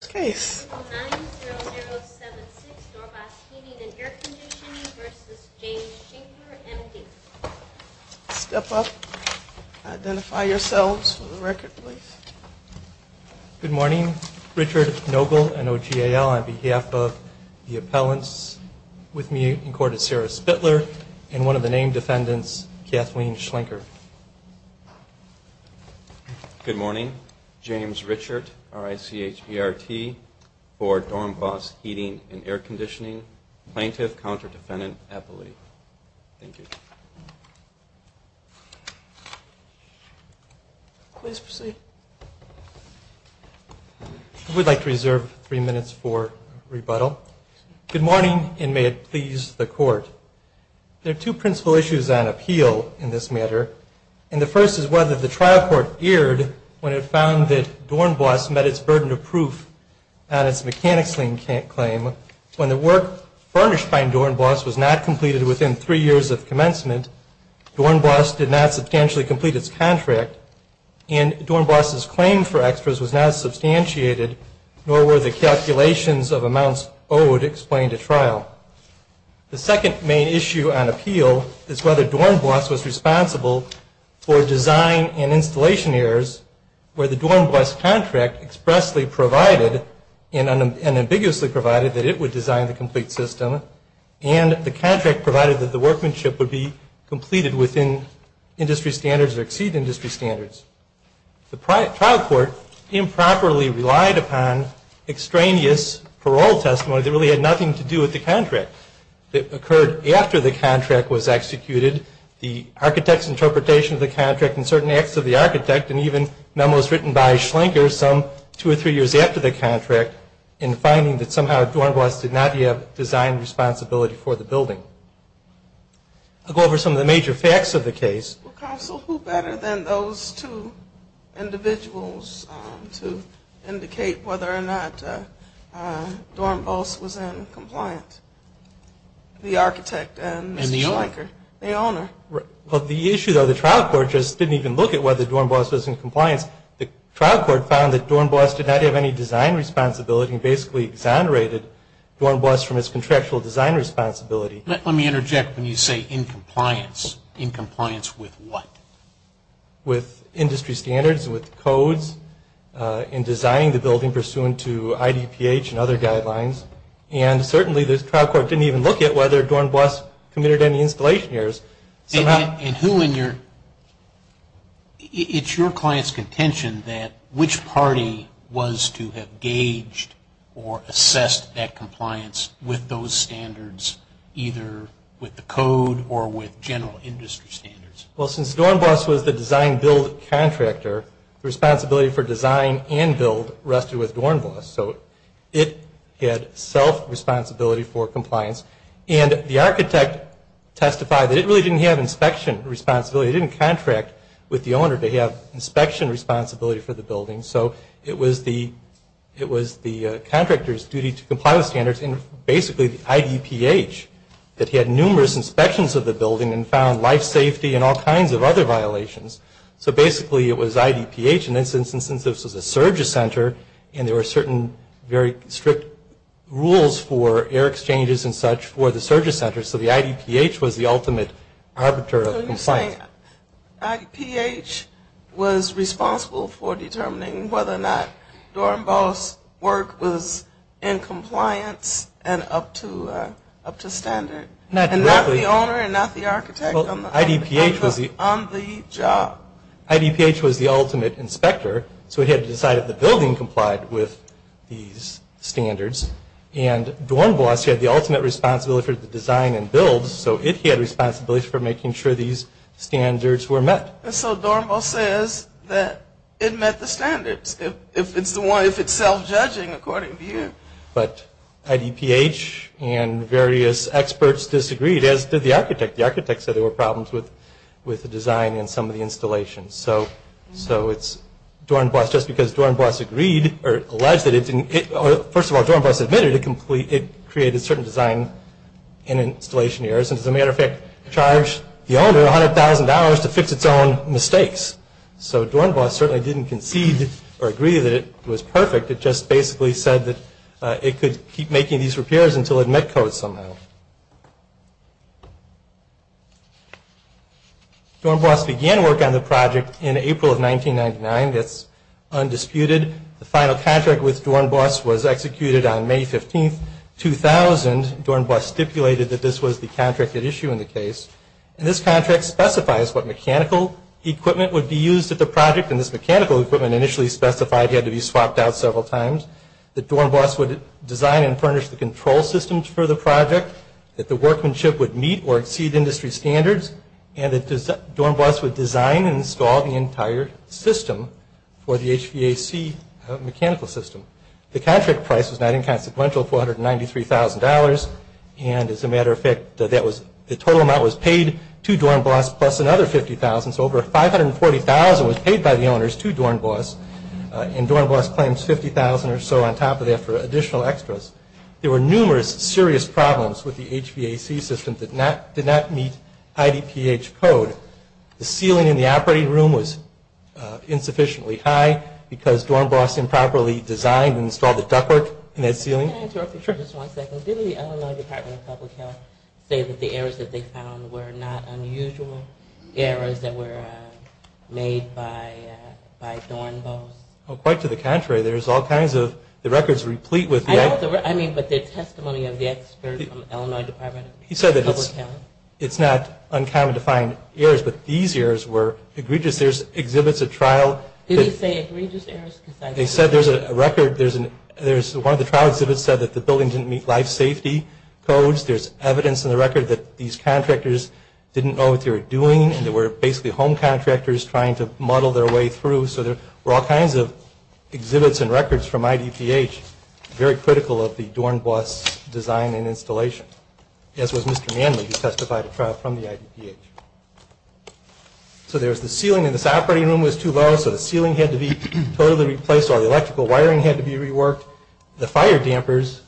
9-0-0-7-6 Doorknobs Heating & Air Conditioning v. James Schenker, M.D. Step up. Identify yourselves for the record, please. Good morning. Richard Nogle, N-O-G-A-L, on behalf of the appellants with me in court is Sarah Spittler and one of the named defendants, Kathleen Schlenker. Good morning. James Richard, R-I-C-H-E-R-T, for Doorknobs Heating & Air Conditioning, Plaintiff, Counter-Defendant, Appellee. Thank you. Please proceed. We'd like to reserve three minutes for rebuttal. Good morning and may it please the Court. There are two principal issues on appeal in this matter and the first is whether the trial court erred when it found that Dornbos met its burden of proof on its mechanics claim. When the work furnished by Dornbos was not completed within three years of commencement, Dornbos did not substantially complete its contract and Dornbos' claim for extras was not substantiated nor were the calculations of amounts owed explained at trial. The second main issue on appeal is whether Dornbos was responsible for design and installation errors where the Dornbos contract expressly provided and ambiguously provided that it would design the complete system and the contract provided that the workmanship would be completed within industry standards or exceed industry standards. The trial court improperly relied upon extraneous parole testimony that really had nothing to do with the contract. It occurred after the contract was executed. The architect's interpretation of the contract and certain acts of the architect and even memos written by Schlenker some two or three years after the contract in finding that somehow Dornbos did not yet have design responsibility for the building. I'll go over some of the major facts of the case. Counsel, who better than those two individuals to indicate whether or not Dornbos was in compliance? The architect and Schlenker, the owner. The issue though, the trial court just didn't even look at whether Dornbos was in compliance. The trial court found that Dornbos did not have any design responsibility and basically exonerated Dornbos from his contractual design responsibility. Let me interject when you say in compliance. In compliance with what? With industry standards, with codes, in designing the building pursuant to IDPH and other guidelines. And certainly the trial court didn't even look at whether Dornbos committed any installation errors. And who in your, it's your client's contention that which party was to have gauged or assessed that compliance with those standards either with the code or with general industry standards? Well, since Dornbos was the design build contractor, the responsibility for design and build rested with Dornbos. So it had self-responsibility for compliance. And the architect testified that it really didn't have inspection responsibility. It didn't contract with the owner to have inspection responsibility for the building. So it was the contractor's duty to comply with standards and basically the IDPH that had numerous inspections of the building and found life safety and all kinds of other violations. So basically it was IDPH in this instance since this was a surges center and there were certain very strict rules for air exchanges and such for the surges center. So the IDPH was the ultimate arbiter of compliance. So you're saying IDPH was responsible for determining whether or not Dornbos' work was in compliance and up to standard? And not the owner and not the architect on the job. IDPH was the ultimate inspector so it had to decide if the building complied with these standards. And Dornbos had the ultimate responsibility for the design and build so it had responsibility for making sure these standards were met. So Dornbos says that it met the standards if it's self-judging according to you. But IDPH and various experts disagreed as did the architect. The architect said there were problems with the design and some of the installations. So it's Dornbos just because Dornbos agreed or alleged that it didn't, first of all Dornbos admitted it created certain design and installation errors and as a matter of fact charged the owner $100,000 to fix its own mistakes. So Dornbos certainly didn't concede or agree that it was perfect. It just basically said that it could keep making these repairs until it met code somehow. Dornbos began work on the project in April of 1999. That's undisputed. The final contract with Dornbos was executed on May 15, 2000. Dornbos stipulated that this was the contracted issue in the case. And this contract specifies what mechanical equipment would be used at the project and this mechanical equipment initially specified had to be swapped out several times, that Dornbos would design and furnish the control systems for the project, that the workmanship would meet or exceed industry standards and that Dornbos would design and install the entire system for the HVAC mechanical system. The contract price was not inconsequential, $493,000 and as a matter of fact the total amount was paid to Dornbos plus another $50,000. So over $540,000 was paid by the owners to Dornbos and Dornbos claims $50,000 or so on top of that for additional extras. There were numerous serious problems with the HVAC system that did not meet IDPH code. The ceiling in the operating room was insufficiently high because Dornbos improperly designed and installed the ductwork in that ceiling. Can I interrupt you just one second? Did the Illinois Department of Public Health say that the errors that they found were not unusual errors that were made by Dornbos? Quite to the contrary. There's all kinds of, the records are replete with... I mean, but the testimony of the experts from the Illinois Department of Public Health. He said that it's not uncommon to find errors, but these errors were egregious. There's exhibits at trial... Did he say egregious errors? They said there's a record, there's one of the trial exhibits said that the building didn't meet life safety codes. There's evidence in the record that these contractors didn't know what they were doing and they were basically home contractors trying to muddle their way through. So there were all kinds of exhibits and records from IDPH very critical of the Dornbos design and installation, as was Mr. Manley who testified at trial from the IDPH. So there's the ceiling in this operating room was too low, so the ceiling had to be totally replaced. All the electrical wiring had to be reworked. The fire dampers,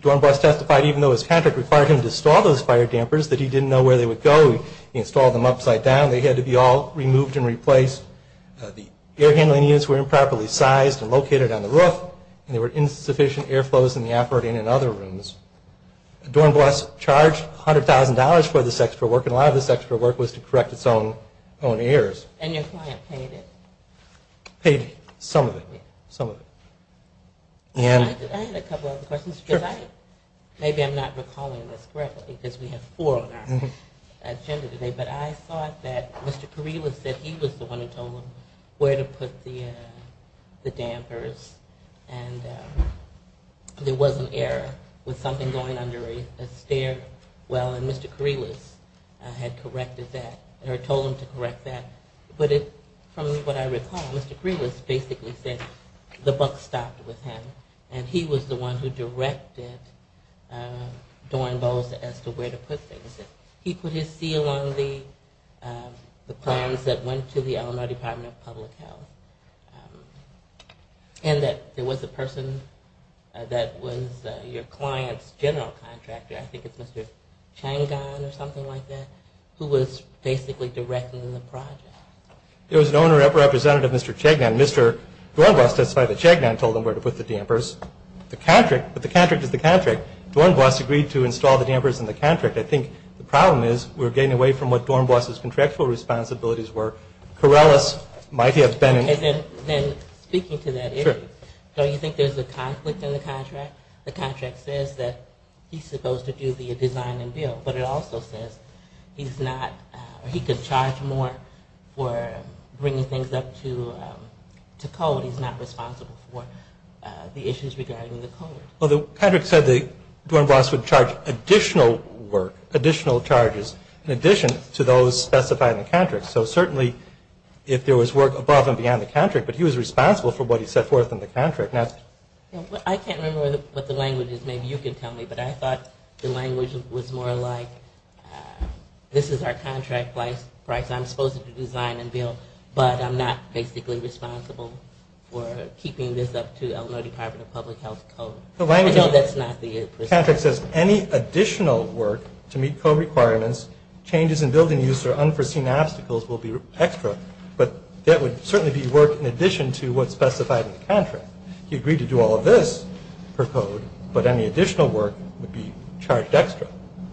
Dornbos testified even though his contractor required him to install those fire dampers, that he didn't know where they would go. He installed them upside down. They had to be all removed and the air handling units were improperly sized and located on the roof and there were insufficient air flows in the operating and other rooms. Dornbos charged $100,000 for this extra work and a lot of this extra work was to correct its own errors. And your client paid it? Paid some of it. I had a couple of other questions. Maybe I'm not recalling this correctly because we have four on our agenda today, but I thought that Mr. Kourilas said he was the one who told him where to put the dampers and there was an error with something going under a stair well and Mr. Kourilas had corrected that or told him to correct that. But from what I recall, Mr. Kourilas basically said the buck stopped with him and he was the one who directed Dornbos as to where to put things. He put his seal on the plans that went to the Illinois Department of Public Health and that there was a person that was your client's general contractor, I think it's Mr. Changon or something like that, who was basically directing the project. There was an owner representative, Mr. Changon, Mr. Dornbos testified that Changon told him where to put the dampers. The contract, but the contract is the contract. Dornbos agreed to install the dampers in the contract. I think the problem is we're getting away from what Dornbos' contractual responsibilities were. Kourilas might have been... Okay, then speaking to that issue, don't you think there's a conflict in the contract? The contract says that he's supposed to do the design and build, but it also says he's not, or he could charge more for bringing things up to code. He's not responsible for the issues regarding the code. Well, the contract said that Dornbos would charge additional work, additional charges, in addition to those specified in the contract. So certainly, if there was work above and beyond the contract, but he was responsible for what he set forth in the contract. I can't remember what the language is. Maybe you can tell me, but I thought the language was more like, this is our contract price. I'm supposed to design and build, but I'm not basically responsible for keeping this up to Illinois Department of Public Health code. I know that's not the... The contract says any additional work to meet code requirements, changes in building use, or unforeseen obstacles will be extra, but that would certainly be work in addition to what's specified in the contract. He agreed to do all of this per code, but any additional work would be charged extra.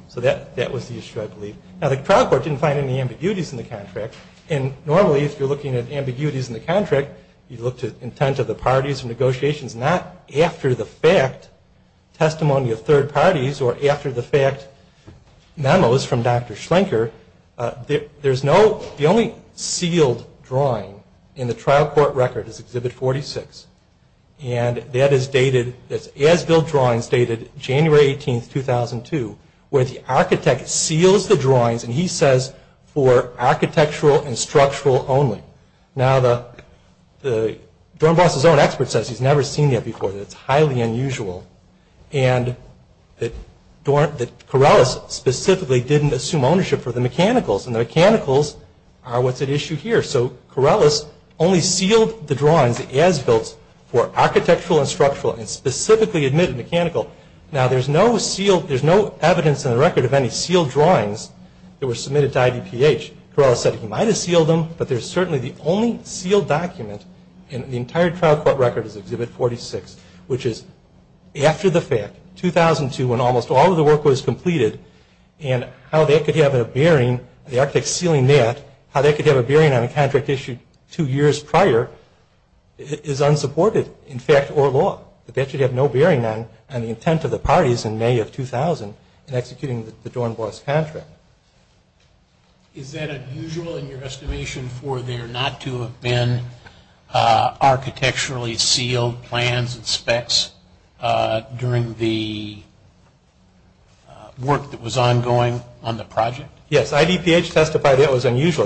So that was the issue, I believe. Now, the trial court didn't find any ambiguities in the contract, and normally if you're looking at ambiguities in the contract, you look to intent of the parties and negotiations, not after the fact testimony of third parties or after the fact memos from Dr. Schlenker. There's no, the only sealed drawing in the trial court record is Exhibit 46, and that is dated, that's as-built drawings dated January 18, 2002, where the architect seals the drawings, and he says, for architectural and structural only. Now the, Dornbroth's own expert says he's never seen that before, that it's highly unusual, and that Corellis specifically didn't assume ownership for the mechanicals, and the mechanicals are what's at issue here. So Corellis only sealed the drawings, as-built for architectural and structural, and specifically admitted mechanical. Now there's no sealed, there's no evidence in the record of any sealed drawings that were submitted to IDPH. Corellis said he might have sealed them, but there's certainly the only sealed document in the entire trial court record is Exhibit 46, which is after the fact, 2002, when almost all of the work was completed, and how they could have a bearing, the architect sealing that, how they could have a bearing on a contract issued two years prior, is unsupported in fact or law. That they should have no bearing on the intent of the parties in May of 2000 in executing the Dornbroth's contract. Is that unusual in your estimation for there not to have been architecturally sealed plans and specs during the work that was ongoing on the project? Yes, IDPH testified it was unusual.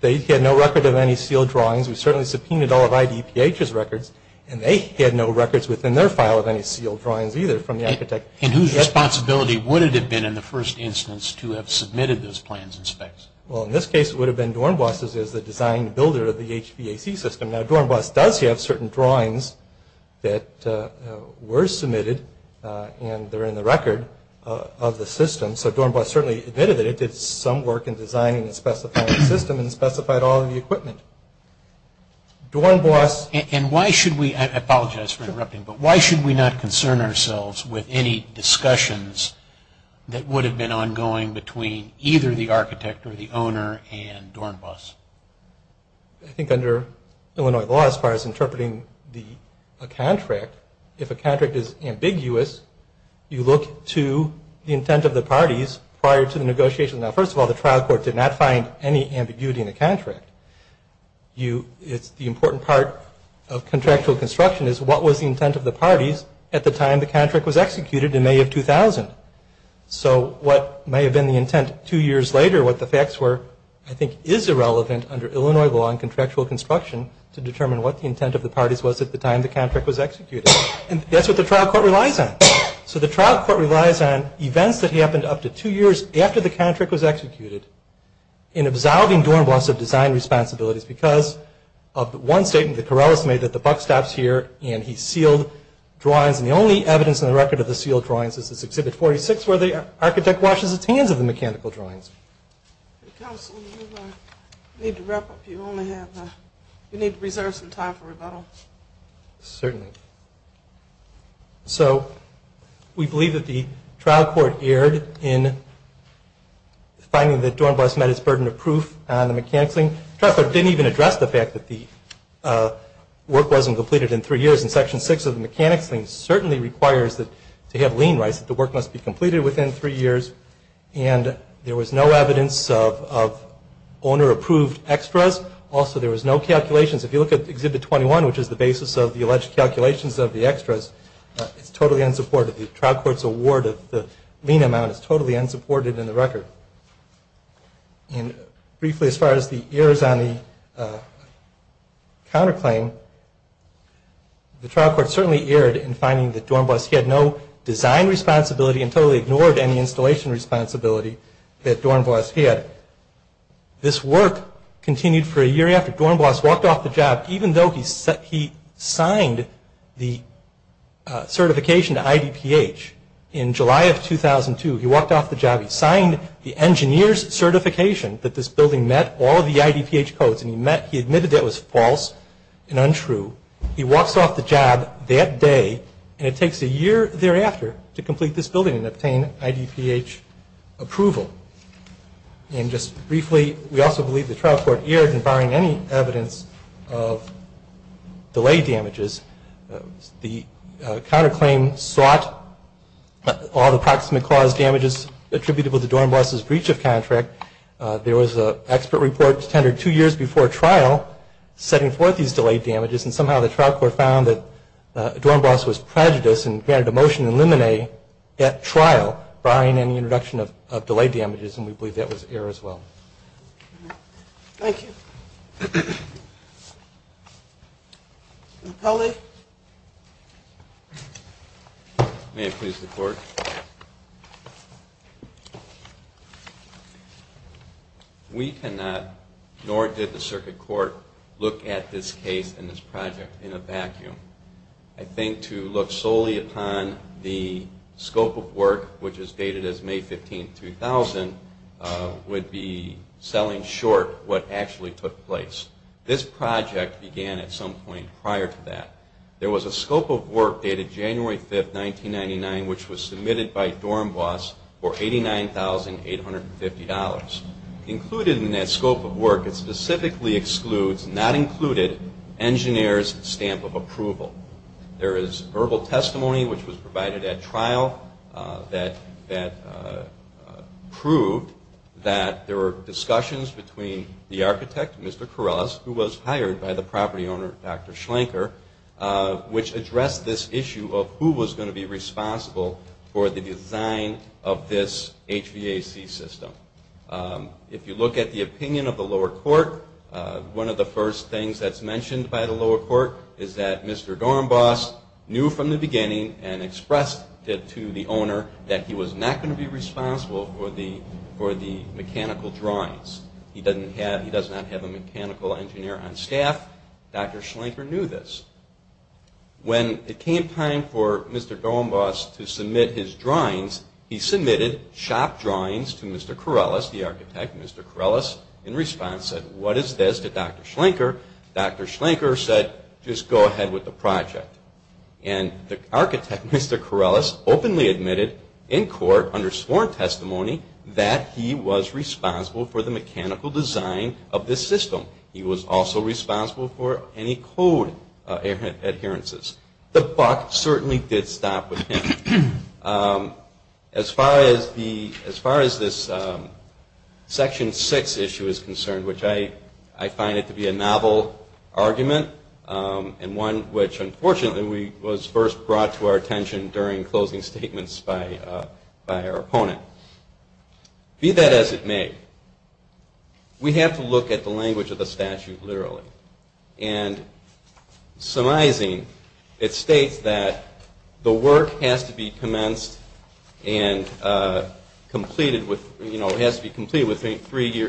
They had no record of any sealed drawings. We certainly subpoenaed all of IDPH's records, and they had no records within their file of any sealed drawings either from the architect. And whose responsibility would it have been in the first instance to have submitted those plans and specs? Well in this case it would have been Dornbroth's as the design builder of the HVAC system. Now Dornbroth does have certain drawings that were submitted, and they're in the record of the system. And so Dornbroth certainly admitted that it did some work in designing and specifying the system and specified all of the equipment. Dornbroth... And why should we, I apologize for interrupting, but why should we not concern ourselves with any discussions that would have been ongoing between either the architect or the owner and Dornbroth? I think under Illinois law as far as interpreting a contract, if a contract is ambiguous, you look to the intent of the parties prior to the negotiations. Now first of all, the trial court did not find any ambiguity in the contract. The important part of contractual construction is what was the intent of the parties at the time the contract was executed in May of 2000. So what may have been the intent two years later, what the facts were, I think is irrelevant under Illinois law and contractual construction to determine what the intent of the parties was at the time the contract was executed. And that's what the trial court relies on. So the trial court relies on events that happened up to two years after the contract was executed in absolving Dornbroth of design responsibilities because of one statement that Corrales made that the buck stops here and he sealed drawings. And the only evidence in the record of the sealed drawings is this Exhibit 46 where the architect washes his hands of the mechanical drawings. Counsel, you need to wrap up. You only have, you need to reserve some time for rebuttal. Certainly. So we believe that the trial court erred in finding that Dornbroth met his burden of proof on the mechanics thing. The trial court didn't even address the fact that the work wasn't completed in three years. And Section 6 of the mechanics thing certainly requires that to have lien rights that the work must be completed within three years. And there was no evidence of owner-approved extras. Also, there was no calculations. If you look at Exhibit 21, which is the basis of the alleged calculations of the extras, it's totally unsupported. The trial court's award of the lien amount is totally unsupported in the record. And briefly, as far as the errors on the counterclaim, the trial court certainly erred in finding that Dornbroth had no design responsibility and totally ignored any installation responsibility that Dornbroth had. This work continued for a year after Dornbroth walked off the job, even though he signed the certification to IDPH in July of 2002. He walked off the job. He signed the engineer's certification that this building met all of the IDPH codes, and he admitted that was false and untrue. He walks off the job that day, and it takes a year thereafter to complete this building and obtain IDPH approval. And just briefly, we also believe the trial court erred in firing any evidence of delay damages. The counterclaim sought all the proximate cause damages attributable to Dornbroth's breach of contract. There was an expert report tendered two years before trial setting forth these delay damages, and somehow the trial court found that Dornbroth was prejudiced and granted a motion to eliminate that trial barring any introduction of delay damages, and we believe that was error as well. Thank you. Napoli. May it please the Court. We cannot, nor did the circuit court, look at this case and this project in a vacuum. I think to look solely upon the scope of work, which is dated as May 15, 2000, would be selling short what actually took place. This project began at some point prior to that. There was a scope of work dated January 5, 1999, which was submitted by Dornbroth for $89,850. Included in that scope of work, it specifically excludes, not included, engineers' stamp of approval. There is verbal testimony, which was provided at trial, that proved that there were discussions between the architect, Mr. Corrales, who was hired by the property owner, Dr. Schlenker, which addressed this issue of who was going to be responsible for the design of this HVAC system. If you look at the opinion of the lower court, one of the first things that's mentioned by the lower court is that Mr. Dornbroth knew from the beginning and expressed to the owner that he was not going to be responsible for the mechanical drawings. He does not have a mechanical engineer on staff. Dr. Schlenker knew this. When it came time for Mr. Dornbroth to submit his drawings, he submitted shop drawings to Mr. Corrales, the architect, Mr. Corrales, in response said, what is this to Dr. Schlenker? Dr. Schlenker said, just go ahead with the project. And the architect, Mr. Corrales, openly admitted in court under sworn testimony that he was responsible for the mechanical design of this system. He was also responsible for any code adherences. The buck certainly did stop with him. As far as this Section 6 issue is concerned, which I find it to be a novel argument and one which, unfortunately, was first brought to our attention during closing statements by our opponent, be that as it may, we have to look at the language of the statute literally. And surmising, it states that the work has to be commenced and completed with, you know, really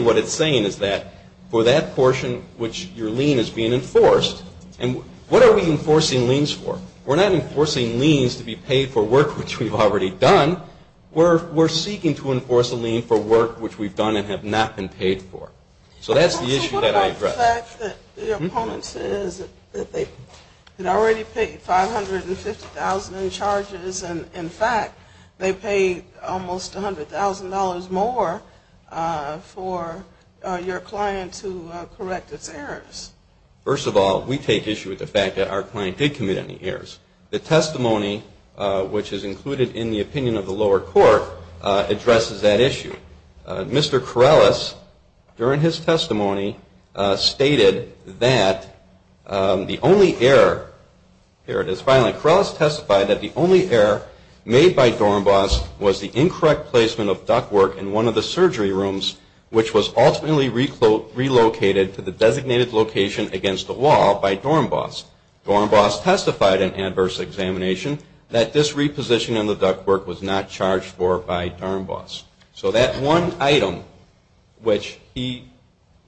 what it's saying is that for that portion which your lien is being enforced, and what are we enforcing liens for? We're not enforcing liens to be paid for work which we've already done. We're seeking to enforce a lien for work which we've done and have not been paid for. So that's the issue that I address. The fact that the opponent says that they had already paid $550,000 in charges and, in fact, they paid almost $100,000 more for your client to correct its errors. First of all, we take issue with the fact that our client did commit any errors. The testimony which is included in the opinion of the lower court addresses that issue. Mr. Corrales, during his testimony, stated that the only error, here it is, finally, Corrales testified that the only error made by Dornbos was the incorrect placement of ductwork in one of the surgery rooms which was ultimately relocated to the designated location against the wall by Dornbos. Dornbos testified in adverse examination that this reposition in the ductwork was not charged for by Dornbos. So that one item which he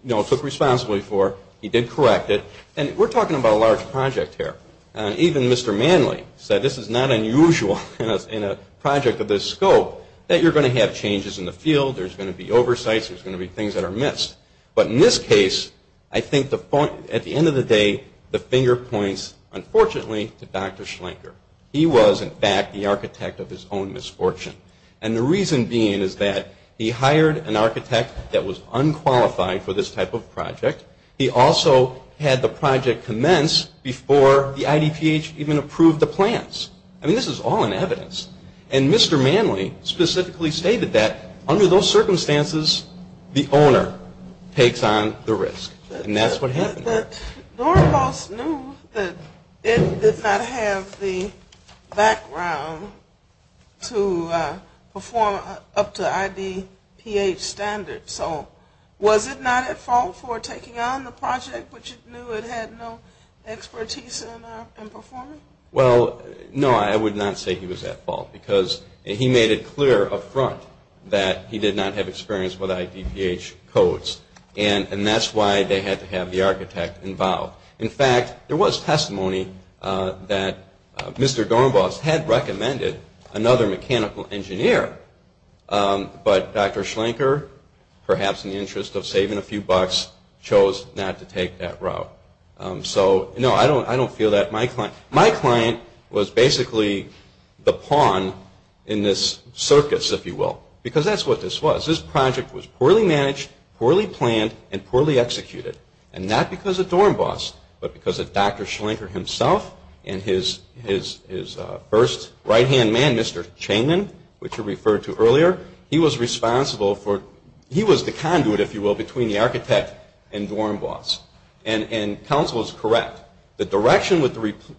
took responsibility for, he did correct it. And we're talking about a large project here. Even Mr. Manley said this is not unusual in a project of this scope, that you're going to have changes in the field, there's going to be oversights, there's going to be things that are missed. But in this case, I think at the end of the day, the finger points, unfortunately, to Dr. Schlenker. He was, in fact, the architect of his own misfortune. And the reason being is that he hired an architect that was unqualified for this type of project. He also had the project commence before the IDPH even approved the plans. I mean, this is all in evidence. And Mr. Manley specifically stated that under those circumstances, the owner takes on the risk. And that's what happened there. And Dornbos knew that it did not have the background to perform up to IDPH standards. So was it not at fault for taking on the project, which it knew it had no expertise in performing? Well, no, I would not say he was at fault. Because he made it clear up front that he did not have experience with IDPH codes. And that's why they had to have the architect involved. In fact, there was testimony that Mr. Dornbos had recommended another mechanical engineer. But Dr. Schlenker, perhaps in the interest of saving a few bucks, chose not to take that route. So, no, I don't feel that my client – my client was basically the pawn in this circus, if you will. Because that's what this was. This project was poorly managed, poorly planned, and poorly executed. And not because of Dornbos, but because of Dr. Schlenker himself and his first right-hand man, Mr. Changman, which you referred to earlier. He was responsible for – he was the conduit, if you will, between the architect and Dornbos. And counsel is correct. The direction,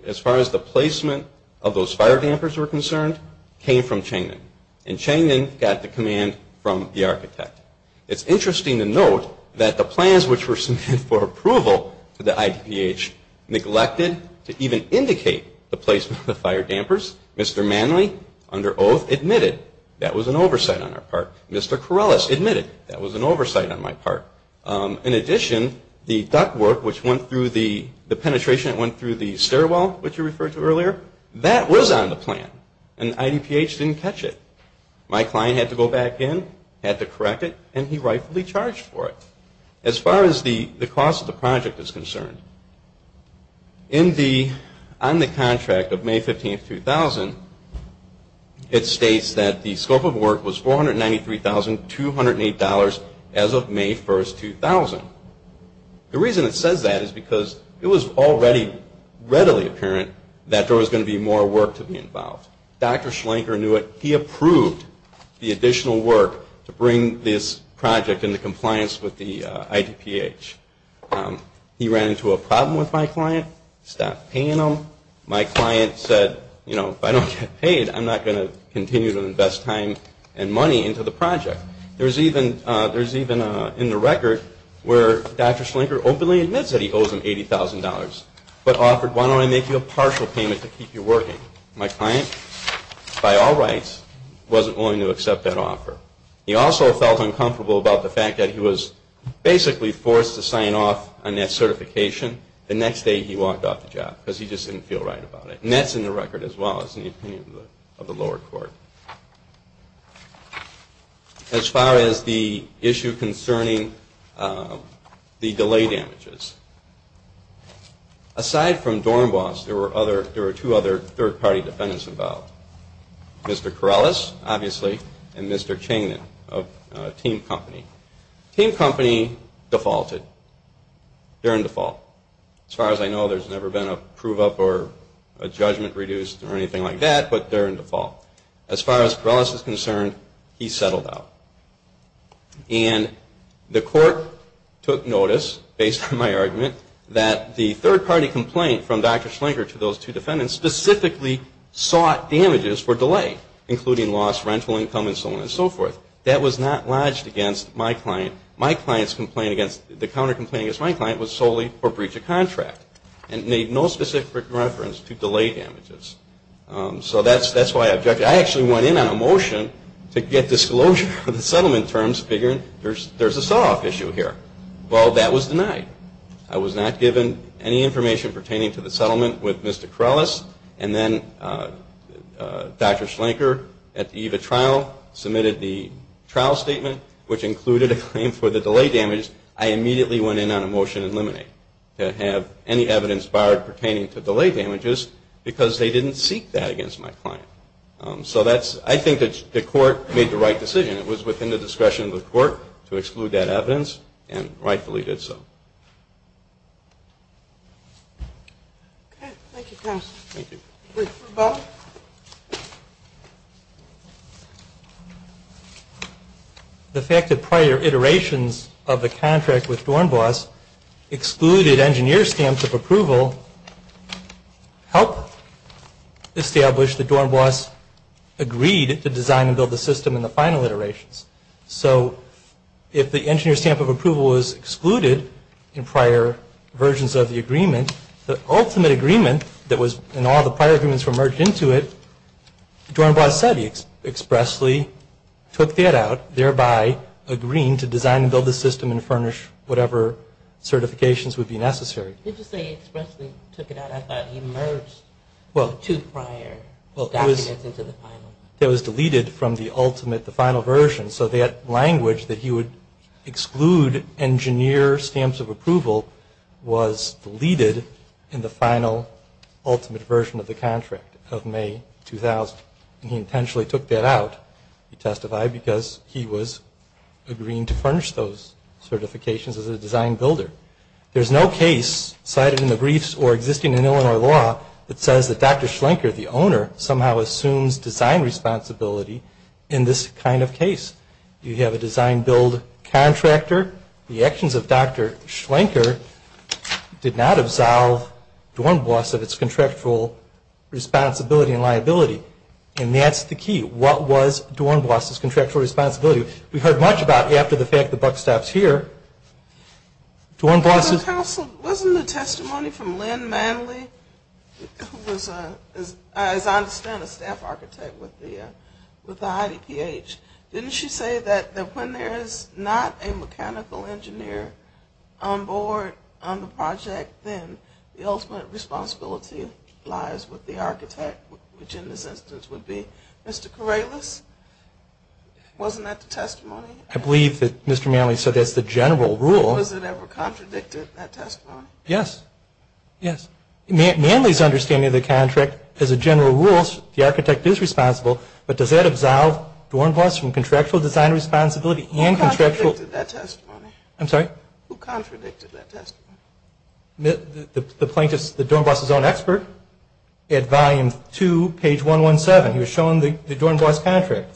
as far as the placement of those fire dampers were concerned, came from Changman. And Changman got the command from the architect. It's interesting to note that the plans which were submitted for approval to the IDPH neglected to even indicate the placement of the fire dampers. Mr. Manley, under oath, admitted that was an oversight on our part. Mr. Corrales admitted that was an oversight on my part. In addition, the duct work, which went through the penetration, it went through the stairwell, which you referred to earlier, that was on the plan. And IDPH didn't catch it. My client had to go back in, had to correct it, and he rightfully charged for it. As far as the cost of the project is concerned, on the contract of May 15, 2000, it states that the scope of work was $493,208 as of May 1, 2000. The reason it says that is because it was already readily apparent that there was going to be more work to be involved. Dr. Schlenker knew it. He approved the additional work to bring this project into compliance with the IDPH. He ran into a problem with my client, stopped paying him. My client said, you know, if I don't get paid, I'm not going to continue to invest time and money into the project. There's even in the record where Dr. Schlenker openly admits that he owes him $80,000, but offered, why don't I make you a partial payment to keep you working? My client, by all rights, wasn't willing to accept that offer. He also felt uncomfortable about the fact that he was basically forced to sign off on that certification the next day he walked off the job because he just didn't feel right about it. And that's in the record as well as in the opinion of the lower court. As far as the issue concerning the delay damages, aside from Dornbos, there were two other third-party defendants involved. Mr. Corrales, obviously, and Mr. Changman of Team Company. Team Company defaulted. They're in default. As far as I know, there's never been a prove-up or a judgment reduced or anything like that, but they're in default. As far as Corrales is concerned, he settled out. And the court took notice, based on my argument, that the third-party complaint from Dr. Schlenker to those two defendants specifically sought damages for delay, including loss, rental income, and so on and so forth. That was not lodged against my client. My client's complaint against, the counter-complaint against my client was solely for breach of contract and made no specific reference to delay damages. So that's why I objected. I actually went in on a motion to get disclosure of the settlement terms, figuring there's a sell-off issue here. Well, that was denied. I was not given any information pertaining to the settlement with Mr. Corrales, and then Dr. Schlenker at the EVA trial submitted the trial statement, which included a claim for the delay damage. I immediately went in on a motion to eliminate, to have any evidence barred pertaining to delay damages because they didn't seek that against my client. So that's, I think the court made the right decision. It was within the discretion of the court to exclude that evidence, and rightfully did so. Okay. Thank you, counsel. Thank you. Please prove, Bob. The fact that prior iterations of the contract with Dornbos excluded engineer stamps of approval helped establish that Dornbos agreed to design and build the system in the final iterations. So if the engineer stamp of approval was excluded in prior versions of the agreement, the ultimate agreement that was, and all the prior agreements were merged into it, Dornbos said he expressly took that out, thereby agreeing to design and build the system and furnish whatever certifications would be necessary. Did you say he expressly took it out? I thought he merged the two prior documents into the final. Well, it was deleted from the ultimate, the final version. So that language that he would exclude engineer stamps of approval was deleted in the final ultimate version of the contract of May 2000, and he intentionally took that out. He testified because he was agreeing to furnish those certifications as a design builder. There's no case cited in the briefs or existing in Illinois law that says that Dr. Schlenker, the owner, somehow assumes design responsibility in this kind of case. You have a design build contractor. The actions of Dr. Schlenker did not absolve Dornbos of its contractual responsibility and liability. And that's the key. What was Dornbos' contractual responsibility? We've heard much about after the fact the buck stops here. Wasn't the testimony from Lynn Manley, who was, as I understand, a staff architect with the IDPH, didn't she say that when there is not a mechanical engineer on board on the project, then the ultimate responsibility lies with the architect, which in this instance would be Mr. Corrales? Wasn't that the testimony? I believe that Mr. Manley said that's the general rule. Was it ever contradicted, that testimony? Yes. Yes. Manley's understanding of the contract, as a general rule, the architect is responsible, but does that absolve Dornbos from contractual design responsibility and contractual? Who contradicted that testimony? I'm sorry? Who contradicted that testimony? The plaintiff's, the Dornbos' own expert at volume 2, page 117. He was shown the Dornbos' contract,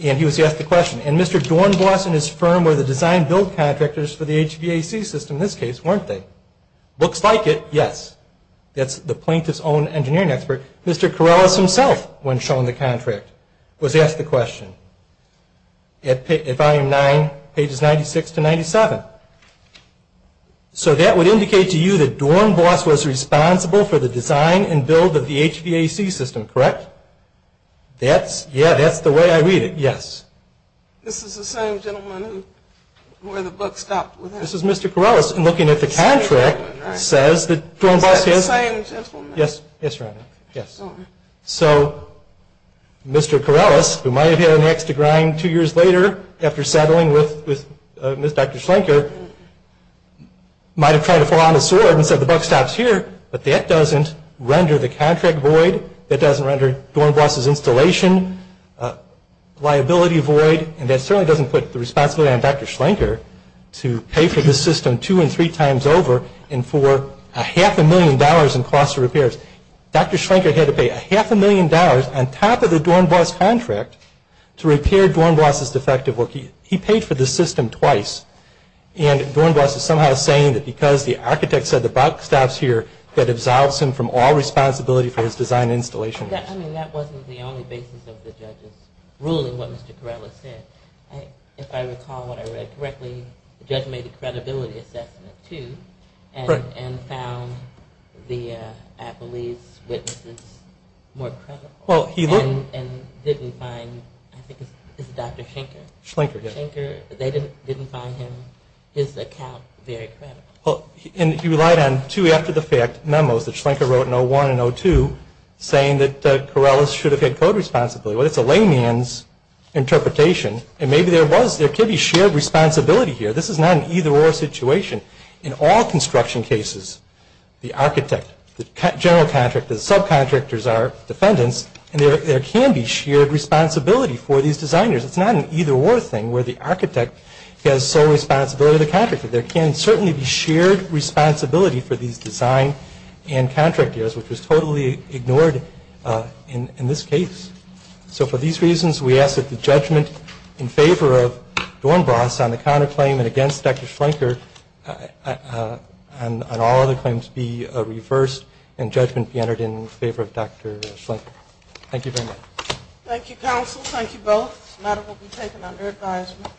and he was asked the question. And Mr. Dornbos and his firm were the design-build contractors for the HVAC system in this case, weren't they? Looks like it, yes. That's the plaintiff's own engineering expert. Mr. Corrales himself, when shown the contract, was asked the question. At volume 9, pages 96 to 97. So that would indicate to you that Dornbos was responsible for the design and build of the HVAC system, correct? That's, yeah, that's the way I read it, yes. This is the same gentleman who, where the buck stopped. This is Mr. Corrales, and looking at the contract, says that Dornbos is. Is that the same gentleman? Yes. Yes, Your Honor. Yes. So Mr. Corrales, who might have had an axe to grind two years later, after settling with Ms. Dr. Schlenker, might have tried to pull out a sword and said the buck stops here, but that doesn't render the contract void. That doesn't render Dornbos's installation liability void. And that certainly doesn't put the responsibility on Dr. Schlenker to pay for this system two and three times over and for a half a million dollars in cost of repairs. Dr. Schlenker had to pay a half a million dollars on top of the Dornbos contract to repair Dornbos's defective work. He paid for this system twice. And Dornbos is somehow saying that because the architect said the buck stops here, that absolves him from all responsibility for his design and installation. I mean, that wasn't the only basis of the judge's ruling, what Mr. Corrales said. If I recall what I read correctly, the judge made a credibility assessment too and found the appellee's witnesses more credible and didn't find, I think it's Dr. Schlenker. Schlenker, yes. Schlenker, they didn't find his account very credible. Well, and he relied on two after-the-fact memos that Schlenker wrote in 01 and 02 saying that Corrales should have had code responsibility. Well, it's a layman's interpretation and maybe there was, there could be shared responsibility here. This is not an either-or situation. In all construction cases, the architect, the general contractor, the subcontractors are defendants and there can be shared responsibility for these designers. It's not an either-or thing where the architect has sole responsibility of the contractor. There can certainly be shared responsibility for these design and contractors, which was totally ignored in this case. So for these reasons, we ask that the judgment in favor of Dornbroth on the counterclaim and against Dr. Schlenker on all other claims be reversed and judgment be entered in favor of Dr. Schlenker. Thank you very much. Thank you, counsel. Thank you both. This matter will be taken under advisement.